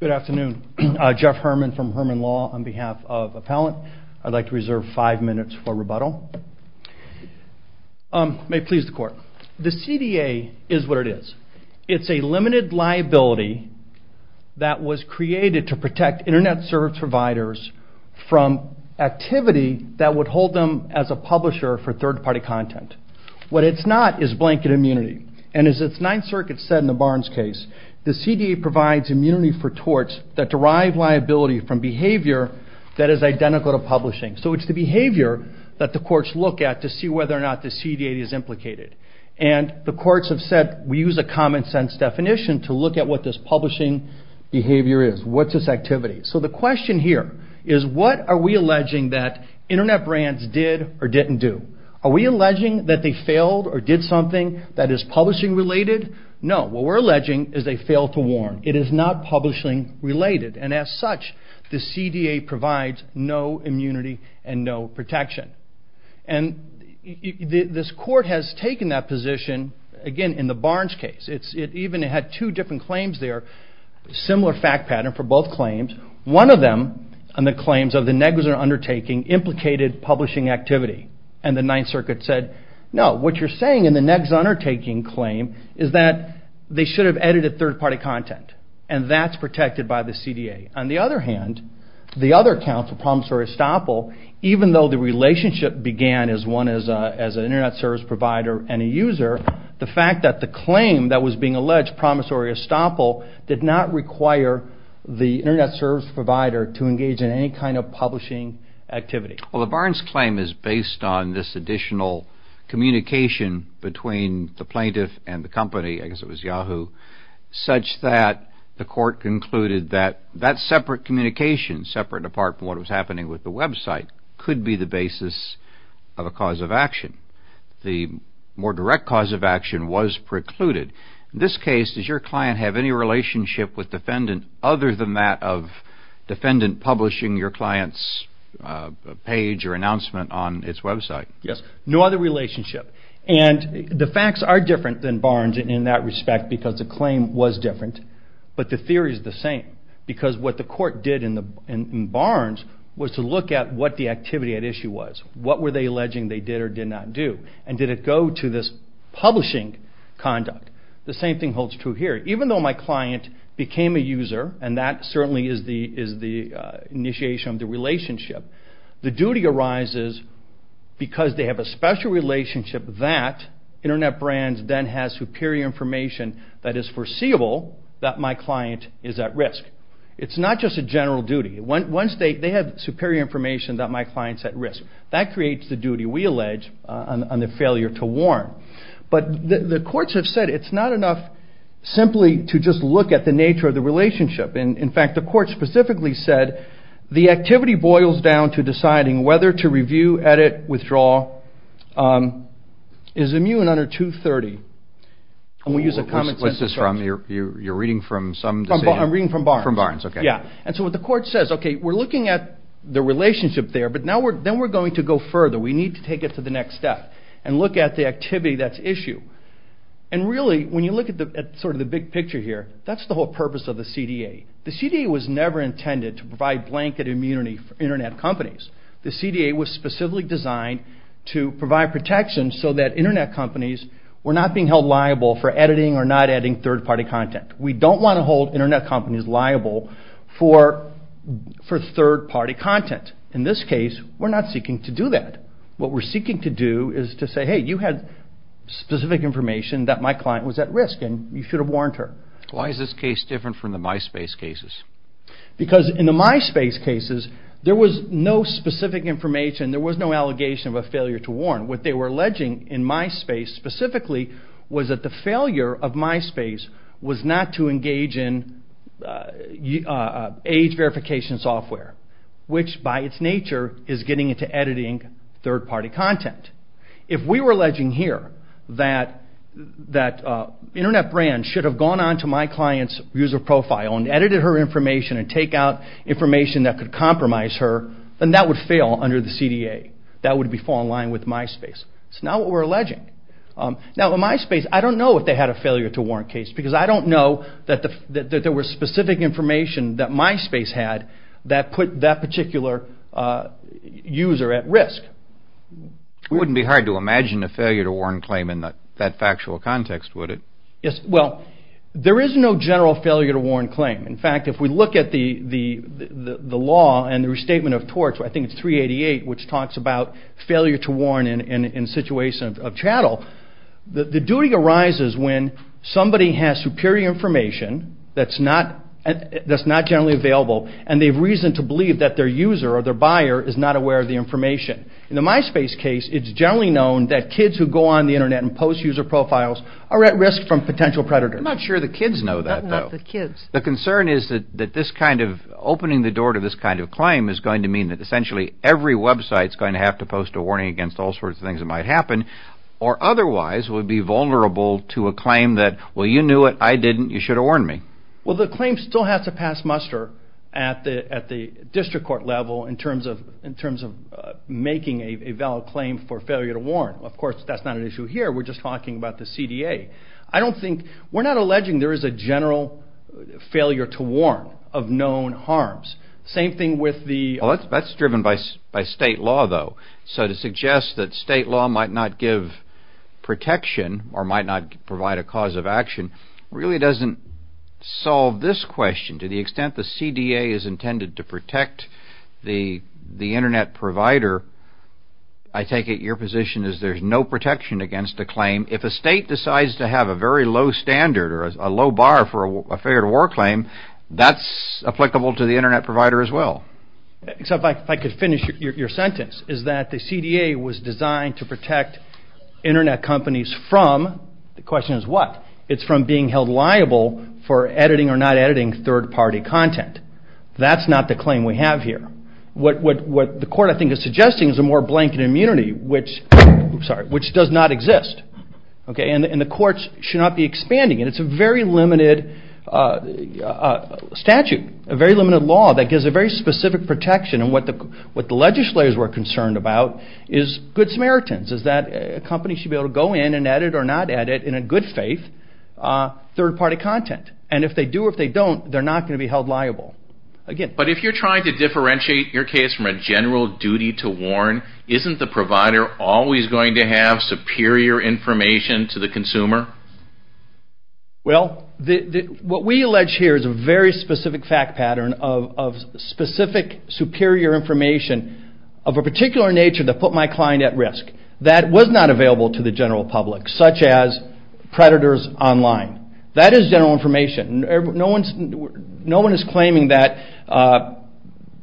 Good afternoon. Jeff Herman from Herman Law on behalf of Appellant. I'd like to reserve five minutes for rebuttal. May it please the Court. The CDA is what it is. It's a limited liability that was created to protect Internet service providers from activity that would hold them as a publisher for third-party content. What it's not is blanket immunity. And as the Ninth Circuit said in the Barnes case, the CDA provides immunity for torts that derive liability from behavior that is identical to publishing. So it's the behavior that the courts look at to see whether or not the CDA is implicated. And the courts have said we use a common-sense definition to look at what this publishing behavior is. What's its activity? So the question here is what are we alleging that Internet brands did or didn't do? Are we alleging that they failed or did something that is publishing-related? No. What we're alleging is they failed to warn. It is not publishing-related. And as such, the CDA provides no immunity and no protection. And this Court has taken that position, again, in the Barnes case. It even had two different claims there, similar fact pattern for both claims. One of them, on the claims of the negligent undertaking, implicated publishing activity. And the Ninth Circuit said, no, what you're saying in the negligent undertaking claim is that they should have edited third-party content, and that's protected by the CDA. On the other hand, the other counsel, Promissory Estoppel, even though the relationship began as one as an Internet service provider and a user, the fact that the claim that was being alleged, Promissory Estoppel, did not require the Internet service provider to engage in any kind of publishing activity. Well, the Barnes claim is based on this additional communication between the plaintiff and the company, I guess it was Yahoo, such that the Court concluded that that separate communication, separate apart from what was happening with the website, could be the basis of a cause of action. The more direct cause of action was precluded. In this case, does your client have any relationship with defendant other than that of defendant publishing your client's page or announcement on its website? Yes, no other relationship. And the facts are different than Barnes in that respect because the claim was different, but the theory is the same, because what the Court did in Barnes was to look at what the activity at issue was. What were they alleging they did or did not do? And did it go to this publishing conduct? The same thing holds true here. Even though my client became a user, and that certainly is the initiation of the relationship, the duty arises because they have a special relationship that Internet Brands then has superior information that is foreseeable that my client is at risk. It's not just a general duty. Once they have superior information that my client's at risk, that creates the duty we allege on the failure to warn. But the courts have said it's not enough simply to just look at the nature of the relationship. In fact, the court specifically said the activity boils down to deciding whether to review, edit, withdraw, is immune under 230. What's this from? You're reading from Barnes? I'm reading from Barnes. And so what the court says, okay, we're looking at the relationship there, but then we're going to go further. We need to take it to the next step and look at the activity that's issue. And really, when you look at sort of the big picture here, that's the whole purpose of the CDA. The CDA was never intended to provide blanket immunity for Internet companies. The CDA was specifically designed to provide protection so that Internet companies were not being held liable for editing or not editing third-party content. We don't want to hold Internet companies liable for third-party content. In this case, we're not seeking to do that. What we're seeking to do is to say, hey, you had specific information that my client was at risk, and you should have warned her. Why is this case different from the MySpace cases? Because in the MySpace cases, there was no specific information, there was no allegation of a failure to warn. What they were alleging in MySpace specifically was that the failure of MySpace was not to engage in age verification software, which by its nature is getting into editing third-party content. If we were alleging here that Internet brands should have gone on to my client's user profile and edited her information and take out information that could compromise her, then that would fail under the CDA. That would fall in line with MySpace. That's not what we're alleging. Now, in MySpace, I don't know if they had a failure to warn case, because I don't know that there was specific information that MySpace had that put that particular user at risk. It wouldn't be hard to imagine a failure to warn claim in that factual context, would it? Yes, well, there is no general failure to warn claim. In fact, if we look at the law and the restatement of torts, I think it's 388, which talks about failure to warn in a situation of chattel, the duty arises when somebody has superior information that's not generally available, and they've reason to believe that their user or their buyer is not aware of the information. In the MySpace case, it's generally known that kids who go on the Internet and post user profiles are at risk from potential predators. I'm not sure the kids know that, though. The concern is that this kind of, opening the door to this kind of claim is going to mean that essentially every website is going to have to post a warning against all sorts of things that might happen, or otherwise would be vulnerable to a claim that, well, you knew it, I didn't, you should have warned me. Well, the claim still has to pass muster at the district court level in terms of making a valid claim for failure to warn. Of course, that's not an issue here. We're just talking about the CDA. We're not alleging there is a general failure to warn of known harms. Same thing with the... Well, that's driven by state law, though. So to suggest that state law might not give protection or might not provide a cause of action really doesn't solve this question. To the extent the CDA is intended to protect the Internet provider, I take it your position is there's no protection against a claim. If a state decides to have a very low standard or a low bar for a failure to warn claim, that's applicable to the Internet provider as well. is that the CDA was designed to protect Internet companies from, the question is what? It's from being held liable for editing or not editing third-party content. That's not the claim we have here. What the court, I think, is suggesting is a more blanket immunity, which does not exist. And the courts should not be expanding it. It's a very limited statute, a very limited law that gives a very specific protection. And what the legislators were concerned about is good Samaritans, is that a company should be able to go in and edit or not edit, in a good faith, third-party content. And if they do or if they don't, they're not going to be held liable. But if you're trying to differentiate your case from a general duty to warn, isn't the provider always going to have superior information to the consumer? Well, what we allege here is a very specific fact pattern of specific superior information of a particular nature that put my client at risk that was not available to the general public, such as predators online. That is general information. No one is claiming that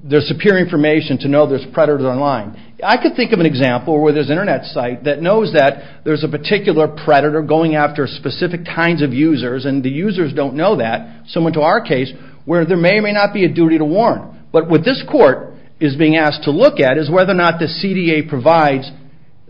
there's superior information to know there's predators online. I could think of an example where there's an Internet site that knows that there's a particular predator going after specific kinds of users, and the users don't know that, similar to our case, where there may or may not be a duty to warn. But what this court is being asked to look at is whether or not the CDA provides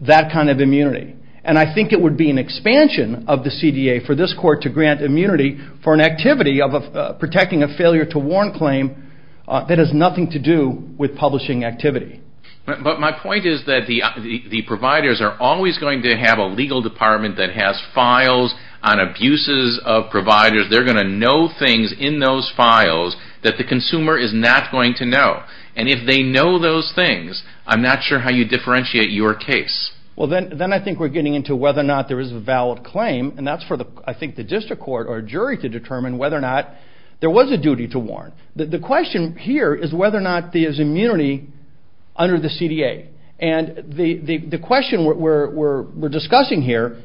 that kind of immunity. And I think it would be an expansion of the CDA for this court to grant immunity for an activity of protecting a failure-to-warn claim that has nothing to do with publishing activity. But my point is that the providers are always going to have a legal department that has files on abuses of providers. They're going to know things in those files that the consumer is not going to know. And if they know those things, I'm not sure how you differentiate your case. Well, then I think we're getting into whether or not there is a valid claim, and that's for, I think, the district court or jury to determine whether or not there was a duty to warn. The question here is whether or not there's immunity under the CDA. And the question we're discussing here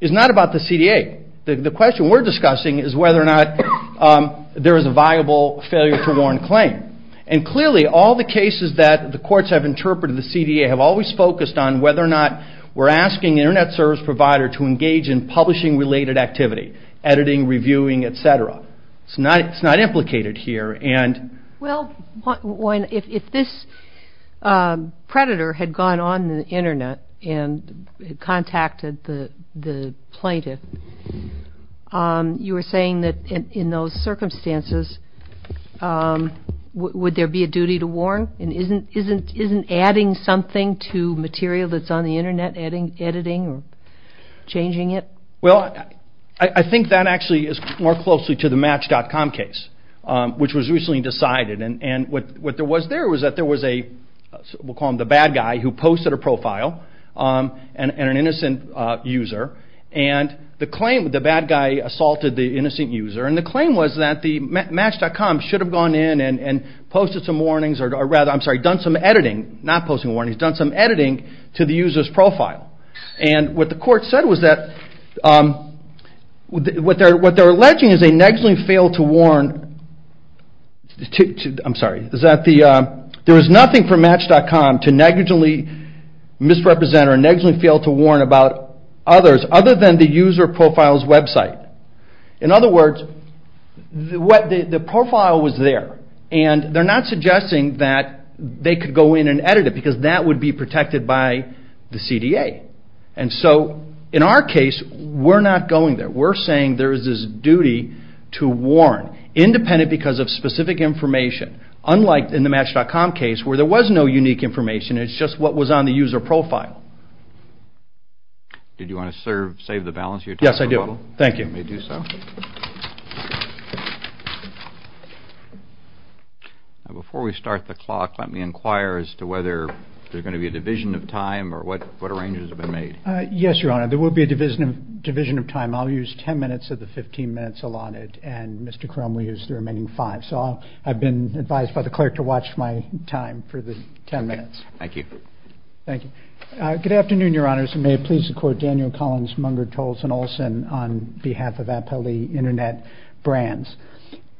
is not about the CDA. The question we're discussing is whether or not there is a viable failure-to-warn claim. And clearly, all the cases that the courts have interpreted, the CDA, have always focused on whether or not we're asking an Internet service provider to engage in publishing-related activity, editing, reviewing, etc. It's not implicated here. Well, if this predator had gone on the Internet and contacted the plaintiff, you were saying that in those circumstances, would there be a duty to warn? And isn't adding something to material that's on the Internet editing or changing it? Well, I think that actually is more closely to the Match.com case, which was recently decided. And what there was there was that there was a, we'll call him the bad guy, who posted a profile and an innocent user. And the bad guy assaulted the innocent user. And the claim was that Match.com should have gone in and posted some warnings, or rather, I'm sorry, done some editing, not posting warnings, done some editing to the user's profile. And what the court said was that what they're alleging is they negligently failed to warn, I'm sorry, is that there was nothing for Match.com to negligently misrepresent or negligently fail to warn about others other than the user profile's website. In other words, the profile was there. And they're not suggesting that they could go in and edit it, because that would be protected by the CDA. And so in our case, we're not going there. We're saying there is this duty to warn, independent because of specific information, unlike in the Match.com case, where there was no unique information, it's just what was on the user profile. Did you want to save the balance of your time? Yes, I do. Thank you. You may do so. Before we start the clock, let me inquire as to whether there's going to be a division of time or what arrangements have been made. Yes, Your Honor, there will be a division of time. I'll use 10 minutes of the 15 minutes allotted, and Mr. Crum will use the remaining 5. So I've been advised by the clerk to watch my time for the 10 minutes. Thank you. Thank you. Good afternoon, Your Honors, and may it please the Court, Daniel Collins, Munger, Tolson, Olson, on behalf of Appellee Internet Brands.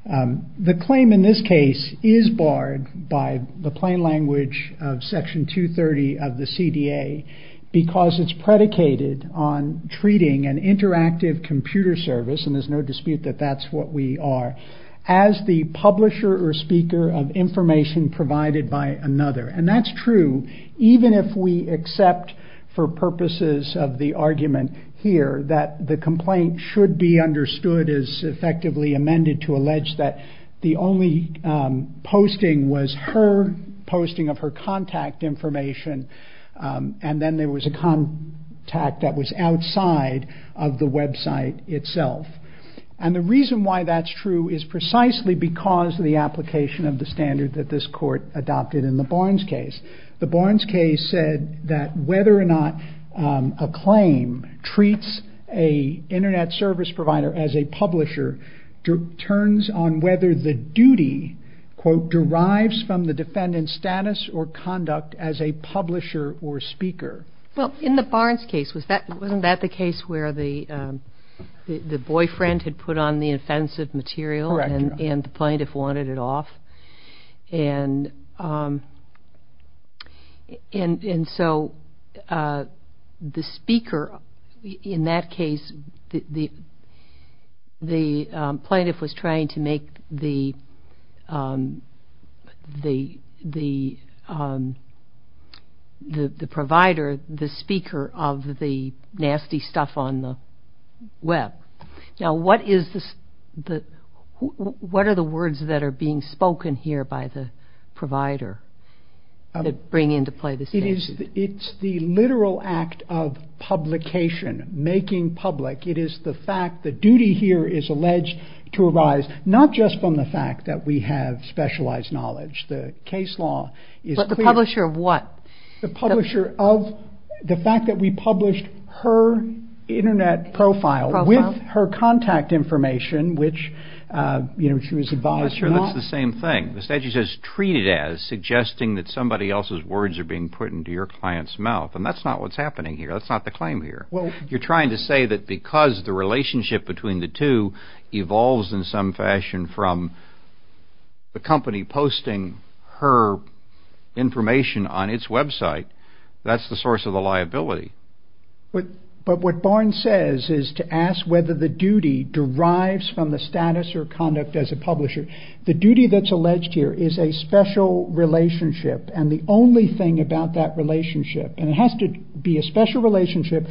The claim in this case is barred by the plain language of Section 230 of the CDA because it's predicated on treating an interactive computer service, and there's no dispute that that's what we are, as the publisher or speaker of information provided by another. And that's true, even if we accept for purposes of the argument here that the complaint should be understood as effectively amended to allege that the only posting was her posting of her contact information, and then there was a contact that was outside of the website itself. And the reason why that's true is precisely because of the application of the standard that this Court adopted in the Barnes case. The Barnes case said that whether or not a claim treats an Internet service provider as a publisher turns on whether the duty quote, derives from the defendant's status or conduct as a publisher or speaker. Well, in the Barnes case, wasn't that the case where the boyfriend had put on the offensive material and the plaintiff wanted it off? And so the speaker in that case, the plaintiff was trying to make the provider, the speaker of the nasty stuff on the web. Now, what are the words that are being spoken here by the provider that bring into play this case? It's the literal act of publication, making public. It is the fact that duty here is alleged to arise not just from the fact that we have specialized knowledge. The case law is clear. But the publisher of what? The publisher of the fact that we published her Internet profile with her contact information, which she was advised to not. That's the same thing. The statute says treated as, suggesting that somebody else's words are being put into your client's mouth. And that's not what's happening here. That's not the claim here. You're trying to say that because the relationship between the two evolves in some fashion from the company posting her information on its website, that's the source of the liability. But what Barnes says is to ask whether the duty derives from the status or conduct as a publisher. The duty that's alleged here is a special relationship and the only thing about that relationship, and it has to be a special relationship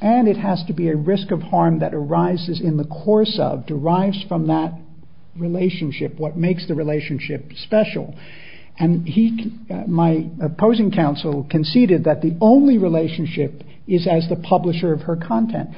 and it has to be a risk of harm that arises in the course of, derives from that relationship, what makes the relationship special. My opposing counsel conceded that the only relationship is as the publisher of her content.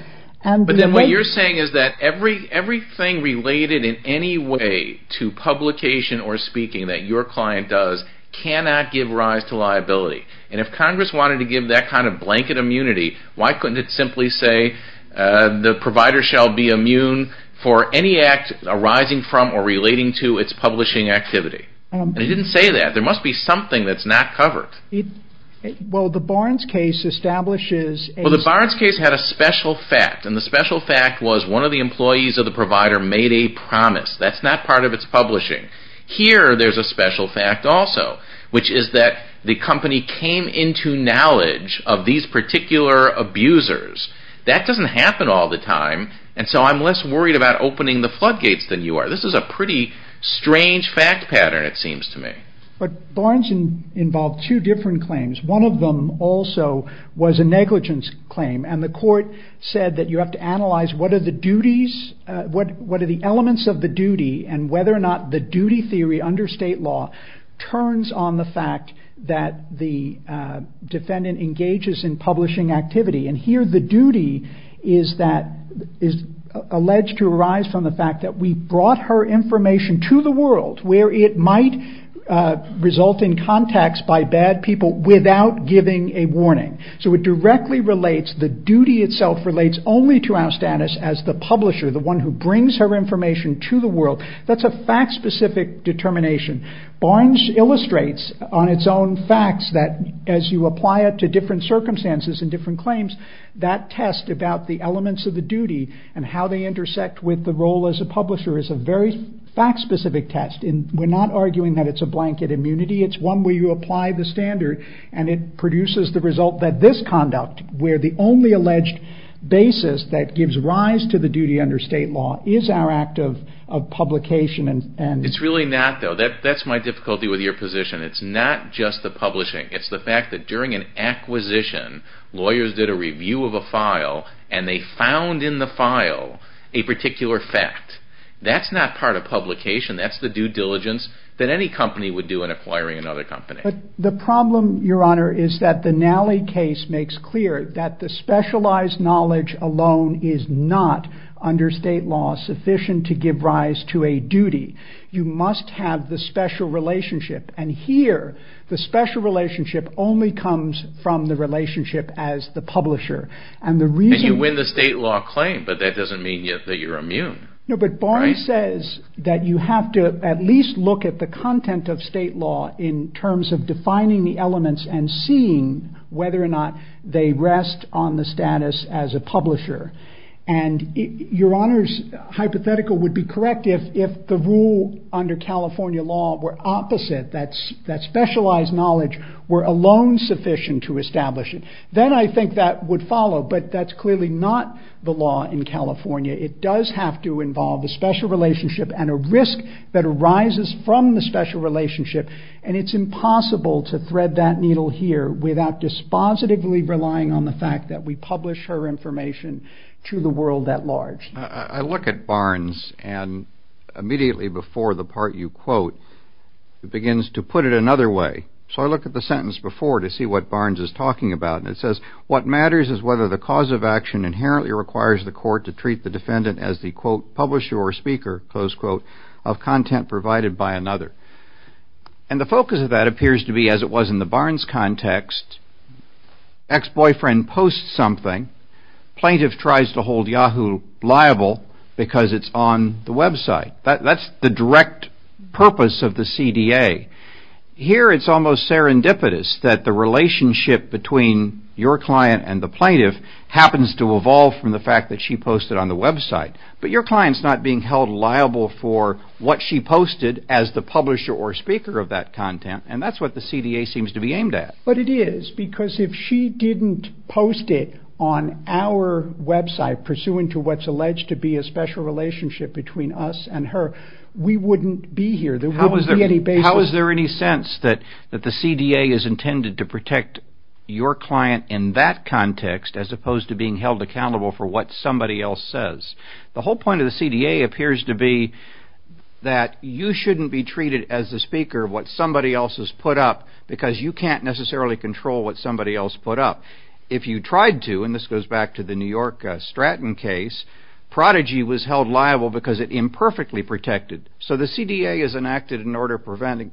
But then what you're saying is that everything related in any way to publication or speaking that your client does cannot give rise to liability. And if Congress wanted to give that kind of blanket immunity, why couldn't it simply say, the provider shall be immune for any act arising from or relating to its publishing activity? And it didn't say that. There must be something that's not covered. Well, the Barnes case establishes a... Well, the Barnes case had a special fact and the special fact was one of the employees of the provider made a promise. That's not part of its publishing. Here there's a special fact also, which is that the company came into knowledge of these particular abusers. That doesn't happen all the time and so I'm less worried about opening the floodgates than you are. This is a pretty strange fact pattern, it seems to me. But Barnes involved two different claims. One of them also was a negligence claim and the court said that you have to analyze what are the duties... what are the elements of the duty and whether or not the duty theory under state law turns on the fact that the defendant engages in publishing activity. And here the duty is that... to the world where it might result in contacts by bad people without giving a warning. So it directly relates... the duty itself relates only to our status as the publisher, the one who brings her information to the world. That's a fact-specific determination. Barnes illustrates on its own facts that as you apply it to different circumstances and different claims, that test about the elements of the duty and how they intersect with the role as a publisher is a very fact-specific test. We're not arguing that it's a blanket immunity. It's one where you apply the standard and it produces the result that this conduct, where the only alleged basis that gives rise to the duty under state law is our act of publication and... It's really not, though. That's my difficulty with your position. It's not just the publishing. It's the fact that during an acquisition, lawyers did a review of a file and they found in the file a particular fact that's not part of publication. That's the due diligence that any company would do in acquiring another company. But the problem, Your Honor, is that the Nally case makes clear that the specialized knowledge alone is not, under state law, sufficient to give rise to a duty. You must have the special relationship. And here, the special relationship only comes from the relationship as the publisher. And the reason... And you win the state law claim, but that doesn't mean that you're immune. No, but Barney says that you have to at least look at the content of state law in terms of defining the elements and seeing whether or not they rest on the status as a publisher. And Your Honor's hypothetical would be correct if the rule under California law were opposite, that specialized knowledge were alone sufficient to establish it. Then I think that would follow, but that's clearly not the law in California. It does have to involve a special relationship and a risk that arises from the special relationship, and it's impossible to thread that needle here without dispositively relying on the fact that we publish her information to the world at large. I look at Barnes, and immediately before the part you quote, it begins to put it another way. So I look at the sentence before to see what Barnes is talking about, and it says, What matters is whether the cause of action inherently requires the court to treat the defendant as the, quote, publisher or speaker, close quote, of content provided by another. And the focus of that appears to be as it was in the Barnes context, ex-boyfriend posts something, plaintiff tries to hold Yahoo liable because it's on the website. That's the direct purpose of the CDA. Here it's almost serendipitous that the relationship between your client and the plaintiff happens to evolve from the fact that she posted on the website. But your client's not being held liable for what she posted as the publisher or speaker of that content, and that's what the CDA seems to be aimed at. But it is, because if she didn't post it on our website, pursuant to what's alleged to be a special relationship between us and her, we wouldn't be here. There wouldn't be any basis. How is there any sense that the CDA is intended to protect your client in that context as opposed to being held accountable for what somebody else says? The whole point of the CDA appears to be that you shouldn't be treated as the speaker of what somebody else has put up because you can't necessarily control what somebody else put up. If you tried to, and this goes back to the New York Stratton case, prodigy was held liable because it imperfectly protected. So the CDA is enacted in order of preventing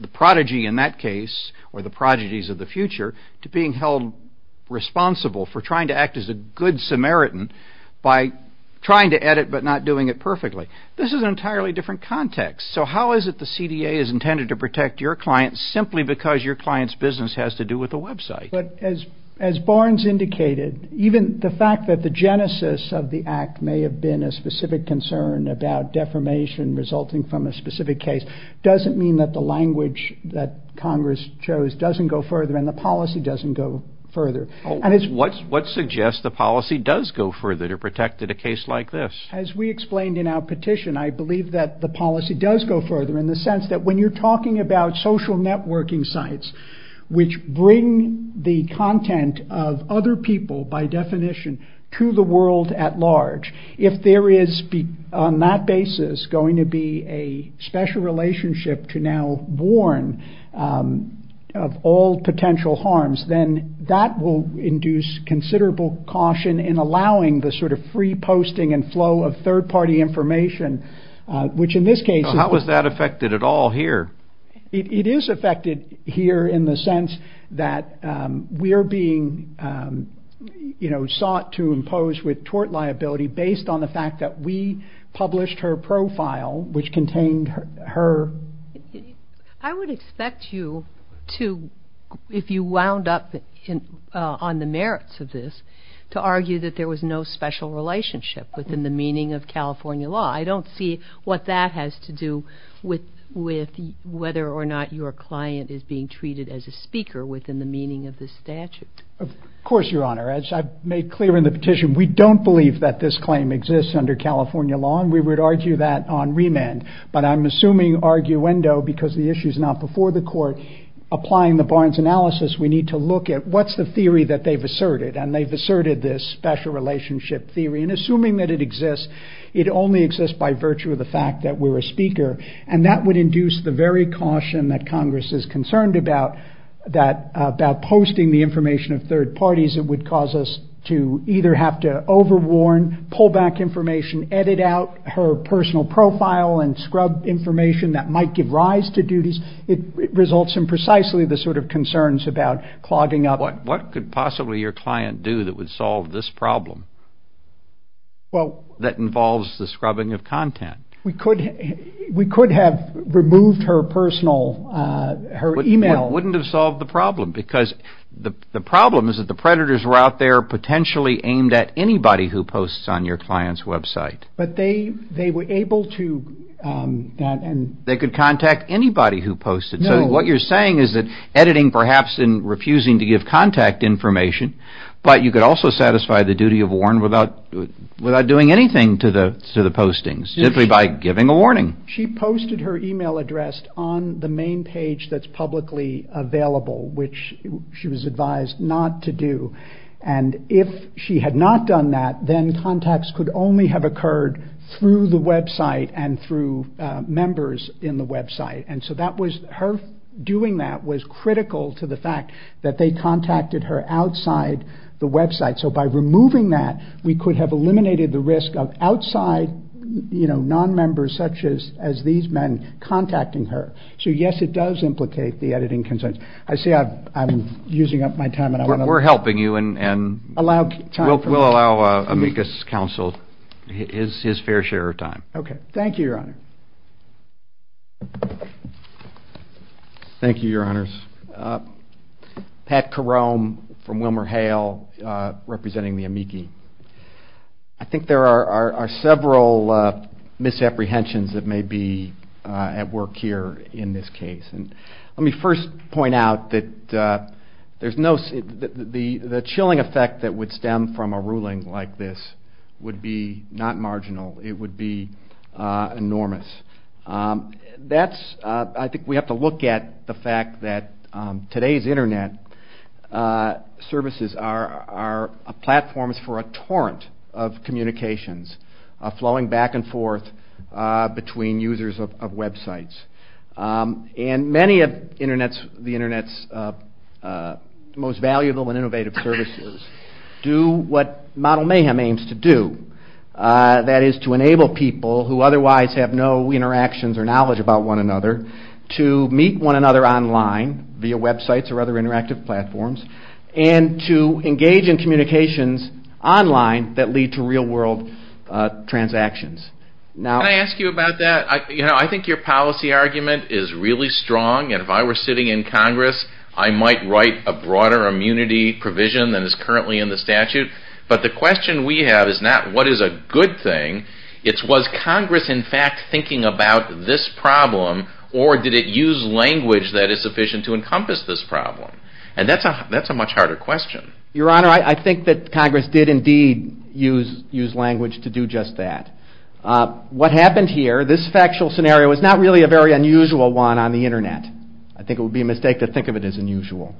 the prodigy in that case, or the prodigies of the future, to being held responsible for trying to act as a good Samaritan by trying to edit but not doing it perfectly. This is an entirely different context. So how is it the CDA is intended to protect your client simply because your client's business has to do with a website? As Barnes indicated, even the fact that the genesis of the act may have been a specific concern about defamation resulting from a specific case doesn't mean that the language that Congress chose doesn't go further and the policy doesn't go further. What suggests the policy does go further to protect a case like this? As we explained in our petition, I believe that the policy does go further in the sense that when you're talking about social networking sites which bring the content of other people, by definition, to the world at large, if there is, on that basis, going to be a special relationship to now warn of all potential harms, then that will induce considerable caution in allowing the sort of free posting and flow of third-party information, which in this case... How is that affected at all here? It is affected here in the sense that we're being sought to impose with tort liability based on the fact that we published her profile which contained her... I would expect you to, if you wound up on the merits of this, to argue that there was no special relationship within the meaning of California law. I don't see what that has to do with whether or not your client is being treated as a speaker within the meaning of this statute. Of course, Your Honor. As I've made clear in the petition, we don't believe that this claim exists under California law, and we would argue that on remand. But I'm assuming, arguendo, because the issue's not before the court, applying the Barnes analysis, we need to look at what's the theory that they've asserted, and they've asserted this special relationship theory, and assuming that it exists, it only exists by virtue of the fact that we're a speaker, and that would induce the very caution that Congress is concerned about, that about posting the information of third parties, it would cause us to either have to overwarn, pull back information, edit out her personal profile, and scrub information that might give rise to duties. It results in precisely the sort of concerns about clogging up. What could possibly your client do that would solve this problem that involves the scrubbing of content? We could have removed her personal, her email. It wouldn't have solved the problem, because the problem is that the predators were out there potentially aimed at anybody who posts on your client's website. But they were able to... They could contact anybody who posted. So what you're saying is that editing perhaps in refusing to give contact information, but you could also satisfy the duty of warn without doing anything to the postings, simply by giving a warning. She posted her email address on the main page that's publicly available, which she was advised not to do. And if she had not done that, then contacts could only have occurred through the website and through members in the website. Her doing that was critical to the fact that they contacted her outside the website. So by removing that, we could have eliminated the risk of outside non-members, such as these men, contacting her. So yes, it does implicate the editing concerns. I see I'm using up my time, and I want to... We're helping you, and... Allow time for me. We'll allow amicus counsel his fair share of time. Okay. Thank you, Your Honor. Thank you, Your Honors. Pat Carome from WilmerHale, representing the amici. I think there are several misapprehensions that may be at work here in this case. Let me first point out that there's no... The chilling effect that would stem from a ruling like this would be not marginal. It would be enormous. That's... I think we have to look at the fact that today's Internet services are platforms for a torrent of communications flowing back and forth between users of websites. And many of the Internet's most valuable and innovative services do what Model Mayhem aims to do. That is to enable people who otherwise have no interactions or knowledge about one another to meet one another online via websites or other interactive platforms and to engage in communications online that lead to real-world transactions. Can I ask you about that? I think your policy argument is really strong. And if I were sitting in Congress, I might write a broader immunity provision than is currently in the statute. But the question we have is not what is a good thing. It's was Congress in fact thinking about this problem or did it use language that is sufficient to encompass this problem? And that's a much harder question. Your Honor, I think that Congress did indeed use language to do just that. What happened here, this factual scenario, is not really a very unusual one on the Internet. I think it would be a mistake to think of it as unusual.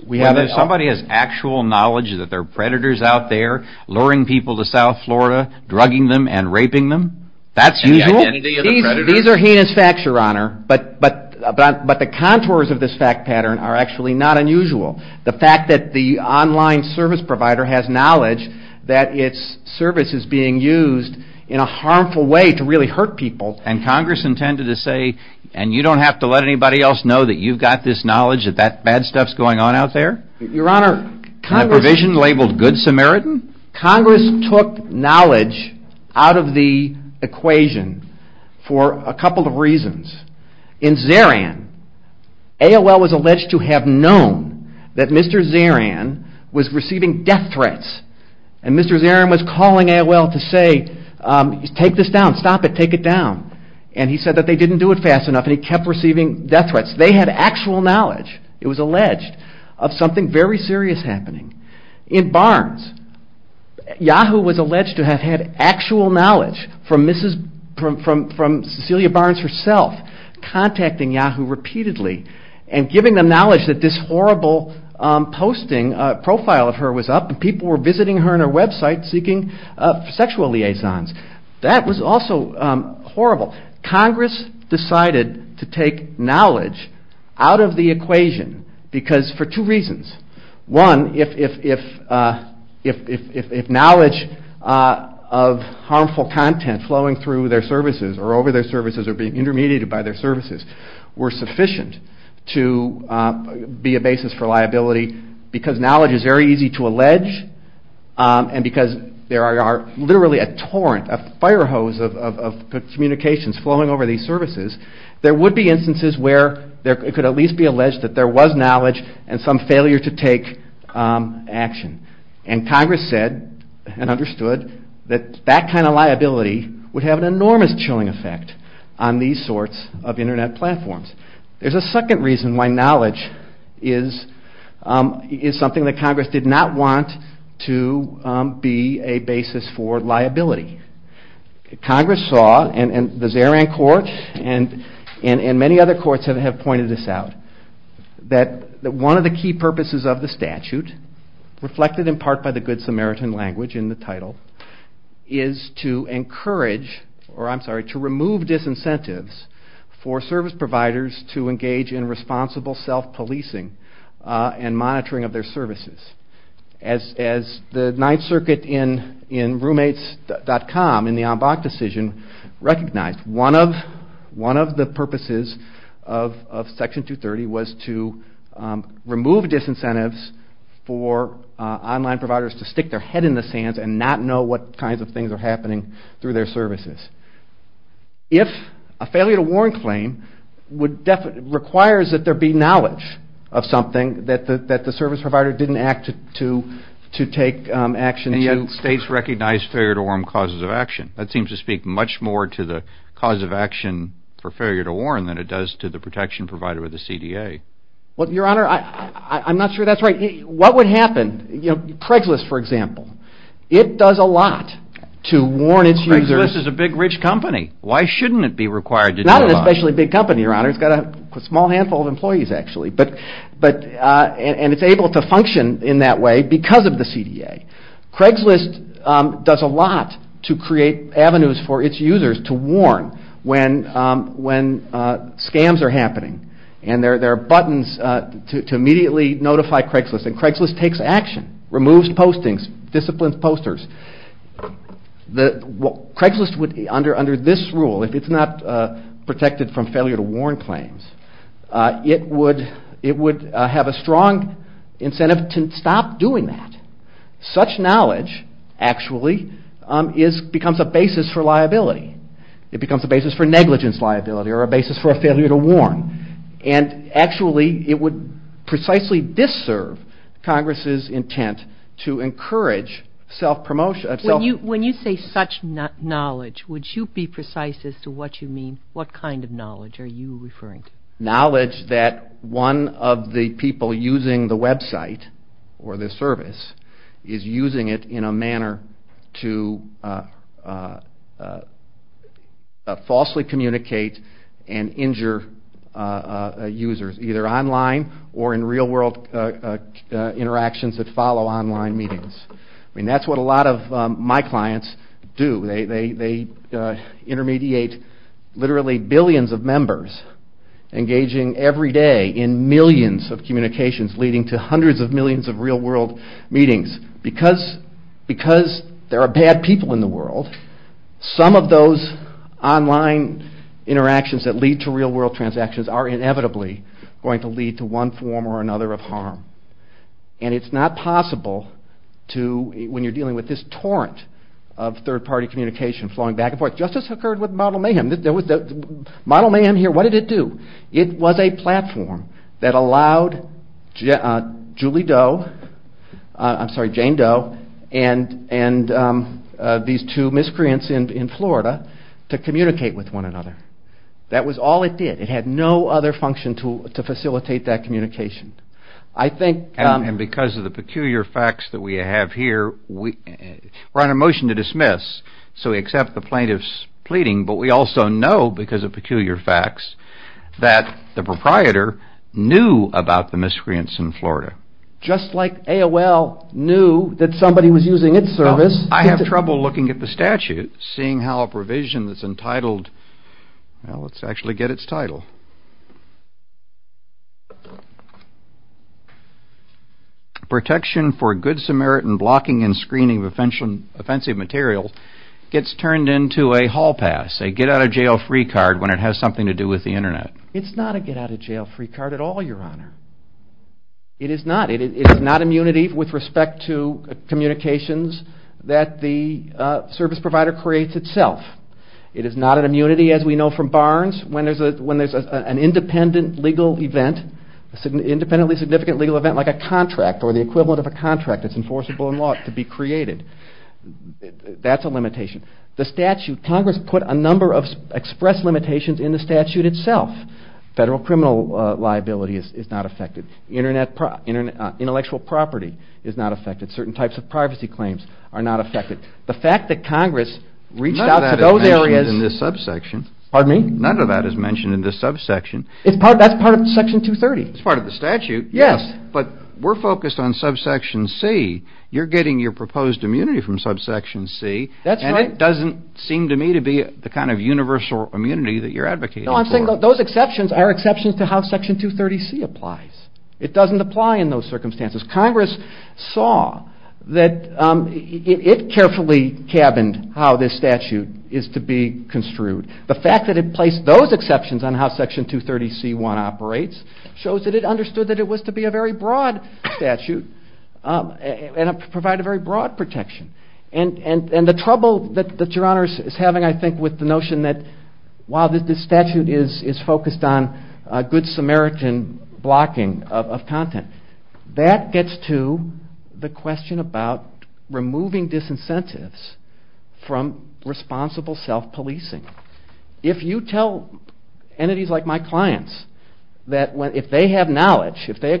Somebody has actual knowledge that there are predators out there luring people to South Florida, drugging them and raping them? That's usual? These are heinous facts, Your Honor. But the contours of this fact pattern are actually not unusual. The fact that the online service provider has knowledge that its service is being used in a harmful way to really hurt people... And Congress intended to say, and you don't have to let anybody else know that you've got this knowledge that that bad stuff is going on out there? Your Honor... In a provision labeled Good Samaritan? Congress took knowledge out of the equation for a couple of reasons. In Zarian, AOL was alleged to have known that Mr. Zarian was receiving death threats. And Mr. Zarian was calling AOL to say, take this down, stop it, take it down. And he said that they didn't do it fast enough and he kept receiving death threats. They had actual knowledge, it was alleged, of something very serious happening. In Barnes, Yahoo was alleged to have had actual knowledge from Cecilia Barnes herself contacting Yahoo repeatedly and giving them knowledge that this horrible posting profile of her was up and people were visiting her on her website seeking sexual liaisons. That was also horrible. Congress decided to take knowledge out of the equation for two reasons. One, if knowledge of harmful content flowing through their services or over their services or being intermediated by their services were sufficient to be a basis for liability because knowledge is very easy to allege and because there are literally a torrent, a fire hose of communications flowing over these services, there would be instances where it could at least be alleged that there was knowledge and some failure to take action. And Congress said and understood that that kind of liability would have an enormous chilling effect on these sorts of internet platforms. There's a second reason why knowledge is something that Congress did not want to be a basis for liability. Congress saw, and the Zaran Court and many other courts have pointed this out, that one of the key purposes of the statute, reflected in part by the Good Samaritan language in the title, is to encourage, or I'm sorry, to remove disincentives for service providers to engage in responsible self-policing and monitoring of their services as the Ninth Circuit in roommates.com in the Ambach decision recognized. One of the purposes of Section 230 was to remove disincentives for online providers to stick their head in the sands and not know what kinds of things are happening through their services. If a failure to warn claim requires that there be knowledge of something, that the service provider didn't act to take action to... And yet states recognize failure to warn causes of action. That seems to speak much more to the cause of action for failure to warn than it does to the protection provider or the CDA. Your Honor, I'm not sure that's right. What would happen? You know, Craigslist, for example. It does a lot to warn its users... Craigslist is a big, rich company. Why shouldn't it be required to do a lot? Not an especially big company, Your Honor. It's got a small handful of employees, actually. And it's able to function in that way because of the CDA. Craigslist does a lot to create avenues for its users to warn when scams are happening. And there are buttons to immediately notify Craigslist. And Craigslist takes action, removes postings, disciplines posters. Craigslist, under this rule, if it's not protected from failure to warn claims, it would have a strong incentive to stop doing that. Such knowledge, actually, becomes a basis for liability. It becomes a basis for negligence liability or a basis for a failure to warn. And actually, it would precisely disserve Congress's intent to encourage self-promotion... would you be precise as to what you mean? Knowledge that one of the people using the website or the service is using it in a manner to falsely communicate and injure users, either online or in real-world interactions that follow online meetings. I mean, that's what a lot of my clients do. They intermediate literally billions of members engaging every day in millions of communications leading to hundreds of millions of real-world meetings. Because there are bad people in the world, some of those online interactions that lead to real-world transactions are inevitably going to lead to one form or another of harm. And it's not possible to... Justice occurred with Model Mayhem. Model Mayhem here, what did it do? It was a platform that allowed Julie Doe... I'm sorry, Jane Doe and these two miscreants in Florida to communicate with one another. That was all it did. It had no other function to facilitate that communication. I think... And because of the peculiar facts that we have here, we're on a motion to dismiss. So we accept the plaintiff's pleading, but we also know, because of peculiar facts, that the proprietor knew about the miscreants in Florida. Just like AOL knew that somebody was using its service... I have trouble looking at the statute, seeing how a provision that's entitled... Well, let's actually get its title. Protection for Good Samaritan Blocking and Screening of Offensive Materials gets turned into a hall pass, a get-out-of-jail-free card, when it has something to do with the Internet. It's not a get-out-of-jail-free card at all, Your Honor. It is not. It is not immunity with respect to communications that the service provider creates itself. It is not an immunity, as we know from Barnes, when there's an independent legal event, an independently significant legal event, like a contract or the equivalent of a contract that's enforceable in law to be created. That's a limitation. The statute... Congress put a number of express limitations in the statute itself. Federal criminal liability is not affected. Intellectual property is not affected. Certain types of privacy claims are not affected. The fact that Congress reached out to those areas... None of that is mentioned in this subsection. Pardon me? None of that is mentioned in this subsection. That's part of Section 230. It's part of the statute, yes, but we're focused on subsection C. You're getting your proposed immunity from subsection C. That's right. And it doesn't seem to me to be the kind of universal immunity that you're advocating for. No, I'm saying those exceptions are exceptions to how Section 230C applies. It doesn't apply in those circumstances. Congress saw that it carefully cabined how this statute is to be construed. The fact that it placed those exceptions on how Section 230C-1 operates shows that it understood that it was to be a very broad statute and provide a very broad protection. And the trouble that Your Honor is having, I think, with the notion that while this statute is focused on good Samaritan blocking of content, that gets to the question about removing disincentives from responsible self-policing. If you tell entities like my clients that if they have knowledge, if they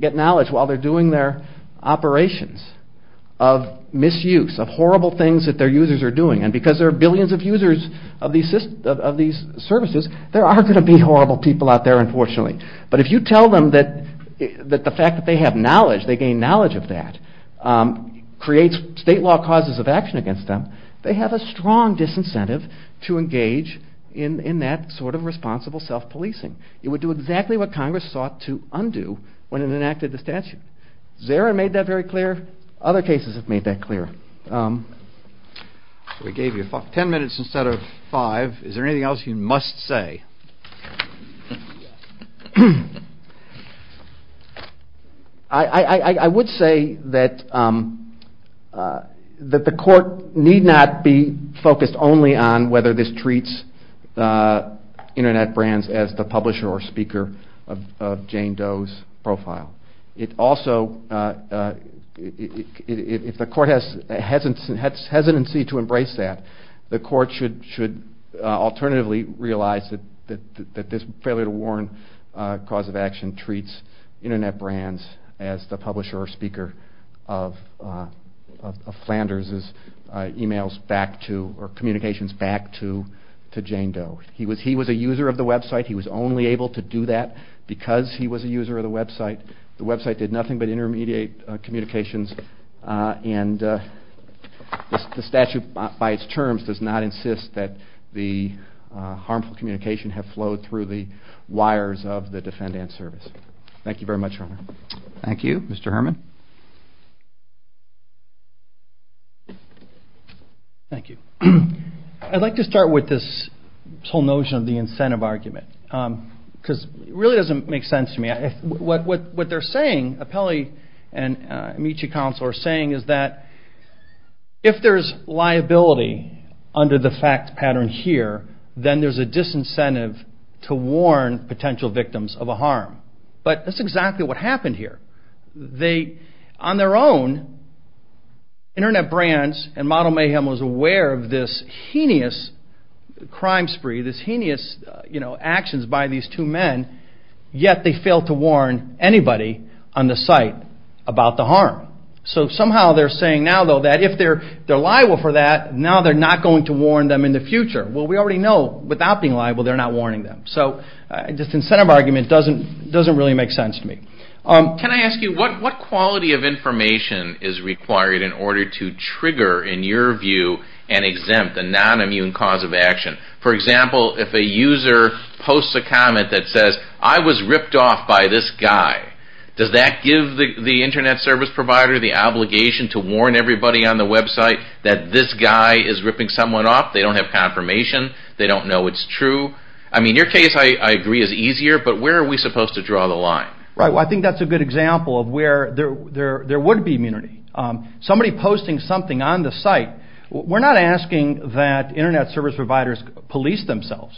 get knowledge while they're doing their operations of misuse, of horrible things that their users are doing, and because there are billions of users of these services, there are going to be horrible people out there, unfortunately. But if you tell them that the fact that they have knowledge, they gain knowledge of that, creates state law causes of action against them, they have a strong disincentive to engage in that sort of responsible self-policing. It would do exactly what Congress sought to undo when it enacted the statute. Zara made that very clear. Other cases have made that clear. We gave you ten minutes instead of five. Is there anything else you must say? I would say that the court need not be focused only on whether this treats Internet brands as the publisher or speaker of Jane Doe's profile. If the court has hesitancy to embrace that, the court should alternatively realize that this failure to warn cause of action treats Internet brands as the publisher or speaker of Flanders' communications back to Jane Doe. He was a user of the website. He was only able to do that because he was a user of the website. The website did nothing but intermediate communications, and the statute by its terms does not insist that the harmful communication have flowed through the wires of the defendant's service. Thank you very much. Thank you, Mr. Herman. Thank you. I'd like to start with this whole notion of the incentive argument. It really doesn't make sense to me. What Apelli and Amici Counsel are saying is that if there's liability under the fact pattern here, then there's a disincentive to warn potential victims of a harm. But that's exactly what happened here. On their own, Internet brands and Model Mayhem was aware of this heinous crime spree, this heinous actions by these two men, yet they failed to warn anybody on the site about the harm. So somehow they're saying now, though, that if they're liable for that, now they're not going to warn them in the future. Well, we already know without being liable, they're not warning them. So this incentive argument doesn't really make sense to me. Can I ask you, what quality of information is required in order to trigger, in your view, and exempt the nonimmune cause of action? For example, if a user posts a comment that says, I was ripped off by this guy, does that give the Internet service provider the obligation to warn everybody on the website that this guy is ripping someone off? They don't have confirmation. They don't know it's true. I mean, your case, I agree, is easier, but where are we supposed to draw the line? Right, well, I think that's a good example of where there would be immunity. Somebody posting something on the site, we're not asking that Internet service providers police themselves,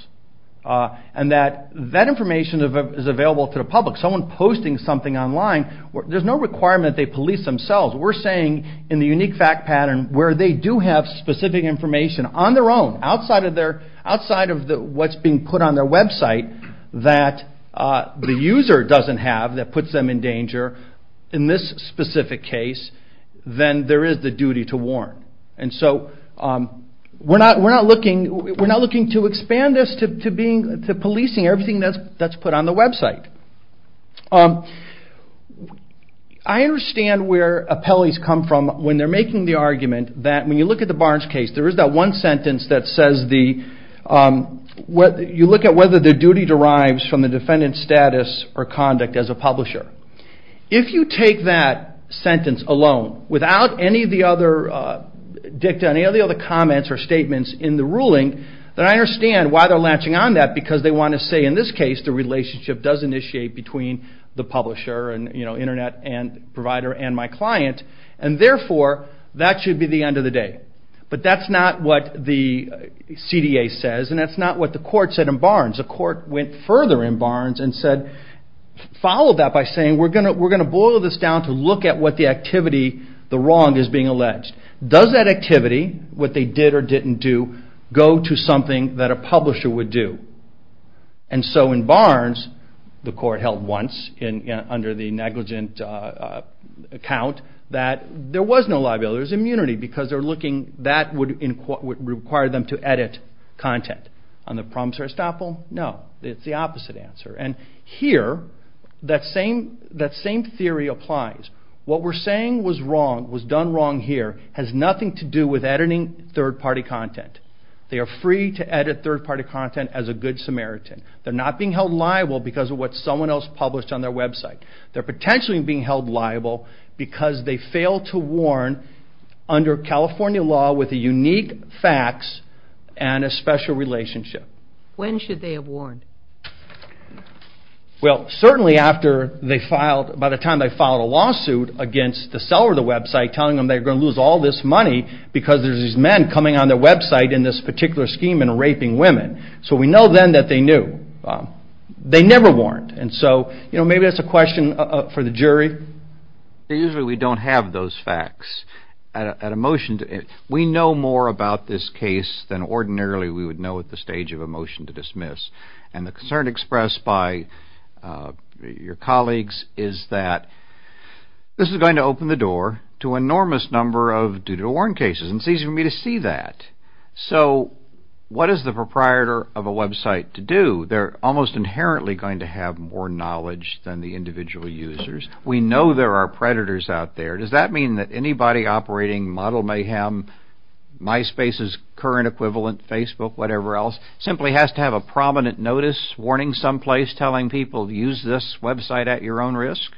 and that that information is available to the public. Someone posting something online, there's no requirement they police themselves. We're saying, in the unique fact pattern, where they do have specific information on their own, outside of what's being put on their website, that the user doesn't have that puts them in danger, in this specific case, then there is the duty to warn. And so, we're not looking to expand this to policing everything that's put on the website. I understand where appellees come from when they're making the argument that, when you look at the Barnes case, there is that one sentence that says, you look at whether the duty derives from the defendant's status or conduct as a publisher. If you take that sentence alone, without any of the other dicta, any of the other comments or statements in the ruling, then I understand why they're latching on to that, because they want to say, in this case, the relationship does initiate between the publisher, and Internet provider, and my client, and therefore, that should be the end of the day. But that's not what the CDA says, and that's not what the court said in Barnes. The court went further in Barnes, and followed that by saying, we're going to boil this down to look at what the activity, the wrong, is being alleged. Does that activity, what they did or didn't do, go to something that a publisher would do? And so, in Barnes, the court held once, under the negligent account, that there was no liability. There was immunity, because that would require them to edit content. On the promise or estoppel, no. It's the opposite answer. And here, that same theory applies. What we're saying was wrong, was done wrong here, has nothing to do with editing third-party content. They are free to edit third-party content as a good Samaritan. They're not being held liable because of what someone else published on their website. They're potentially being held liable because they failed to warn under California law with a unique fax and a special relationship. When should they have warned? Well, certainly after they filed, by the time they filed a lawsuit against the seller of the website, telling them they were going to lose all this money because there's these men coming on their website in this particular scheme and raping women. So we know then that they knew. They never warned. And so maybe that's a question for the jury. Usually we don't have those facts. We know more about this case than ordinarily we would know at the stage of a motion to dismiss. And the concern expressed by your colleagues is that this is going to open the door to an enormous number of due-to-warn cases, and it's easy for me to see that. So what is the proprietor of a website to do? They're almost inherently going to have more knowledge than the individual users. We know there are predators out there. Does that mean that anybody operating Model Mayhem, MySpace's current equivalent, Facebook, whatever else, simply has to have a prominent notice warning someplace telling people use this website at your own risk?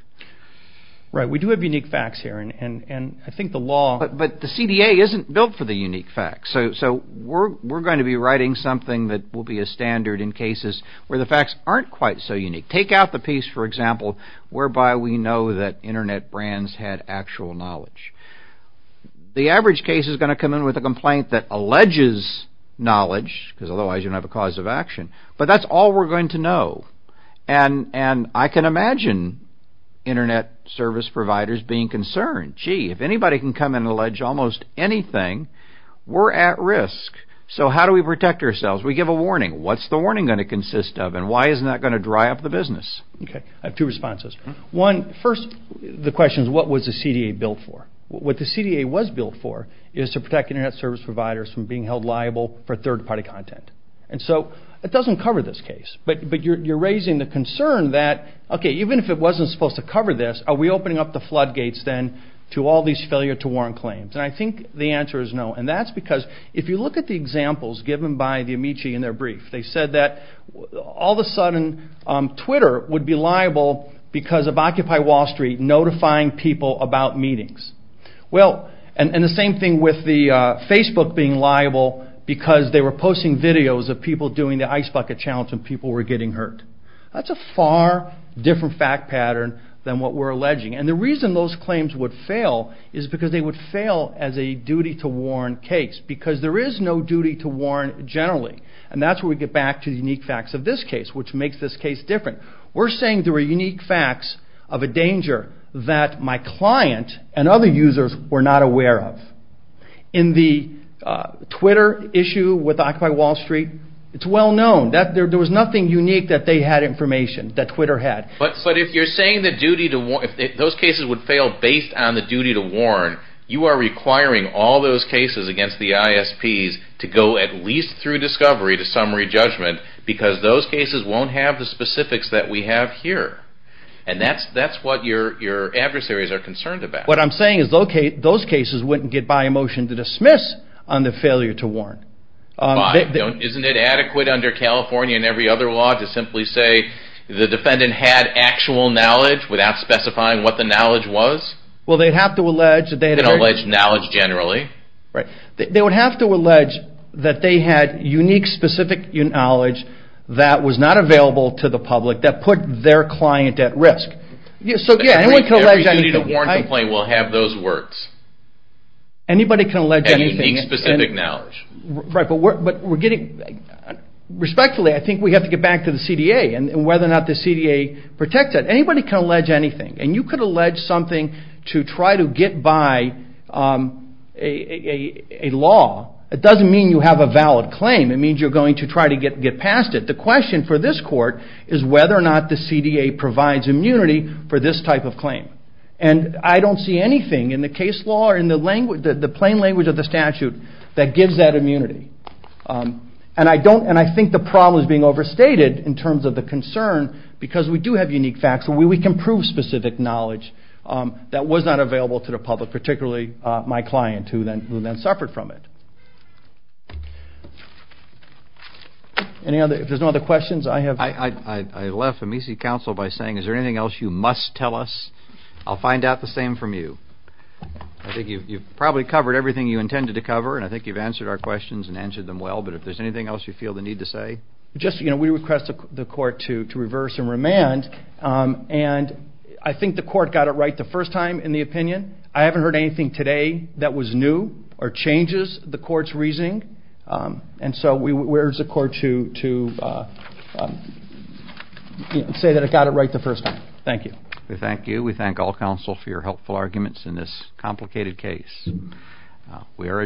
Right. We do have unique fax here. And I think the law... But the CDA isn't built for the unique fax. So we're going to be writing something that will be a standard in cases where the fax aren't quite so unique. Take out the piece, for example, whereby we know that Internet brands had actual knowledge. The average case is going to come in with a complaint that alleges knowledge, because otherwise you don't have a cause of action. But that's all we're going to know. And I can imagine Internet service providers being concerned. Gee, if anybody can come in and allege almost anything, we're at risk. So how do we protect ourselves? We give a warning. What's the warning going to consist of? And why isn't that going to dry up the business? Okay. I have two responses. One, first, the question is, what was the CDA built for? What the CDA was built for is to protect Internet service providers from being held liable for third-party content. And so it doesn't cover this case. But you're raising the concern that, okay, even if it wasn't supposed to cover this, are we opening up the floodgates then to all these failure-to-warrant claims? And I think the answer is no. And that's because if you look at the examples given by the Amici in their brief, they said that all of a sudden Twitter would be liable because of Occupy Wall Street notifying people about meetings. Well, and the same thing with Facebook being liable because they were posting videos of people doing the ice bucket challenge and people were getting hurt. That's a far different fact pattern than what we're alleging. And the reason those claims would fail is because they would fail as a duty-to-warrant case. Because there is no duty-to-warrant generally. And that's where we get back to the unique facts of this case, which makes this case different. We're saying there were unique facts of a danger that my client and other users were not aware of. In the Twitter issue with Occupy Wall Street, it's well known. There was nothing unique that they had information, that Twitter had. But if you're saying the duty-to-warrant, if those cases would fail based on the duty-to-warrant, you are requiring all those cases against the ISPs to go at least through discovery to summary judgment because those cases won't have the specifics that we have here. And that's what your adversaries are concerned about. What I'm saying is those cases wouldn't get by a motion to dismiss on the failure to warrant. Isn't it adequate under California and every other law to simply say the defendant had actual knowledge without specifying what the knowledge was? Well, they'd have to allege that they had... They'd allege knowledge generally. Right. They would have to allege that they had unique, specific knowledge that was not available to the public that put their client at risk. So, yeah, anyone can allege anything. Every duty-to-warrant complaint will have those words. Anybody can allege anything. And unique, specific knowledge. Right, but we're getting... Respectfully, I think we have to get back to the CDA and whether or not the CDA protects it. Anybody can allege anything. And you could allege something to try to get by a law. It doesn't mean you have a valid claim. It means you're going to try to get past it. The question for this court is whether or not the CDA provides immunity for this type of claim. And I don't see anything in the case law or in the plain language of the statute that gives that immunity. And I think the problem is being overstated in terms of the concern because we do have unique facts. We can prove specific knowledge that was not available to the public, particularly my client who then suffered from it. Any other... If there's no other questions, I have... I left Amici Council by saying is there anything else you must tell us? I'll find out the same from you. I think you've probably covered everything you intended to cover and I think you've answered our questions and answered them well. But if there's anything else you feel the need to say... Just, you know, we request the court to reverse and remand and I think the court got it right the first time in the opinion. I haven't heard anything today that was new or changes the court's reasoning. And so we urge the court to... say that it got it right the first time. Thank you. We thank you. We thank all counsel for your helpful arguments in this complicated case. We are adjourned.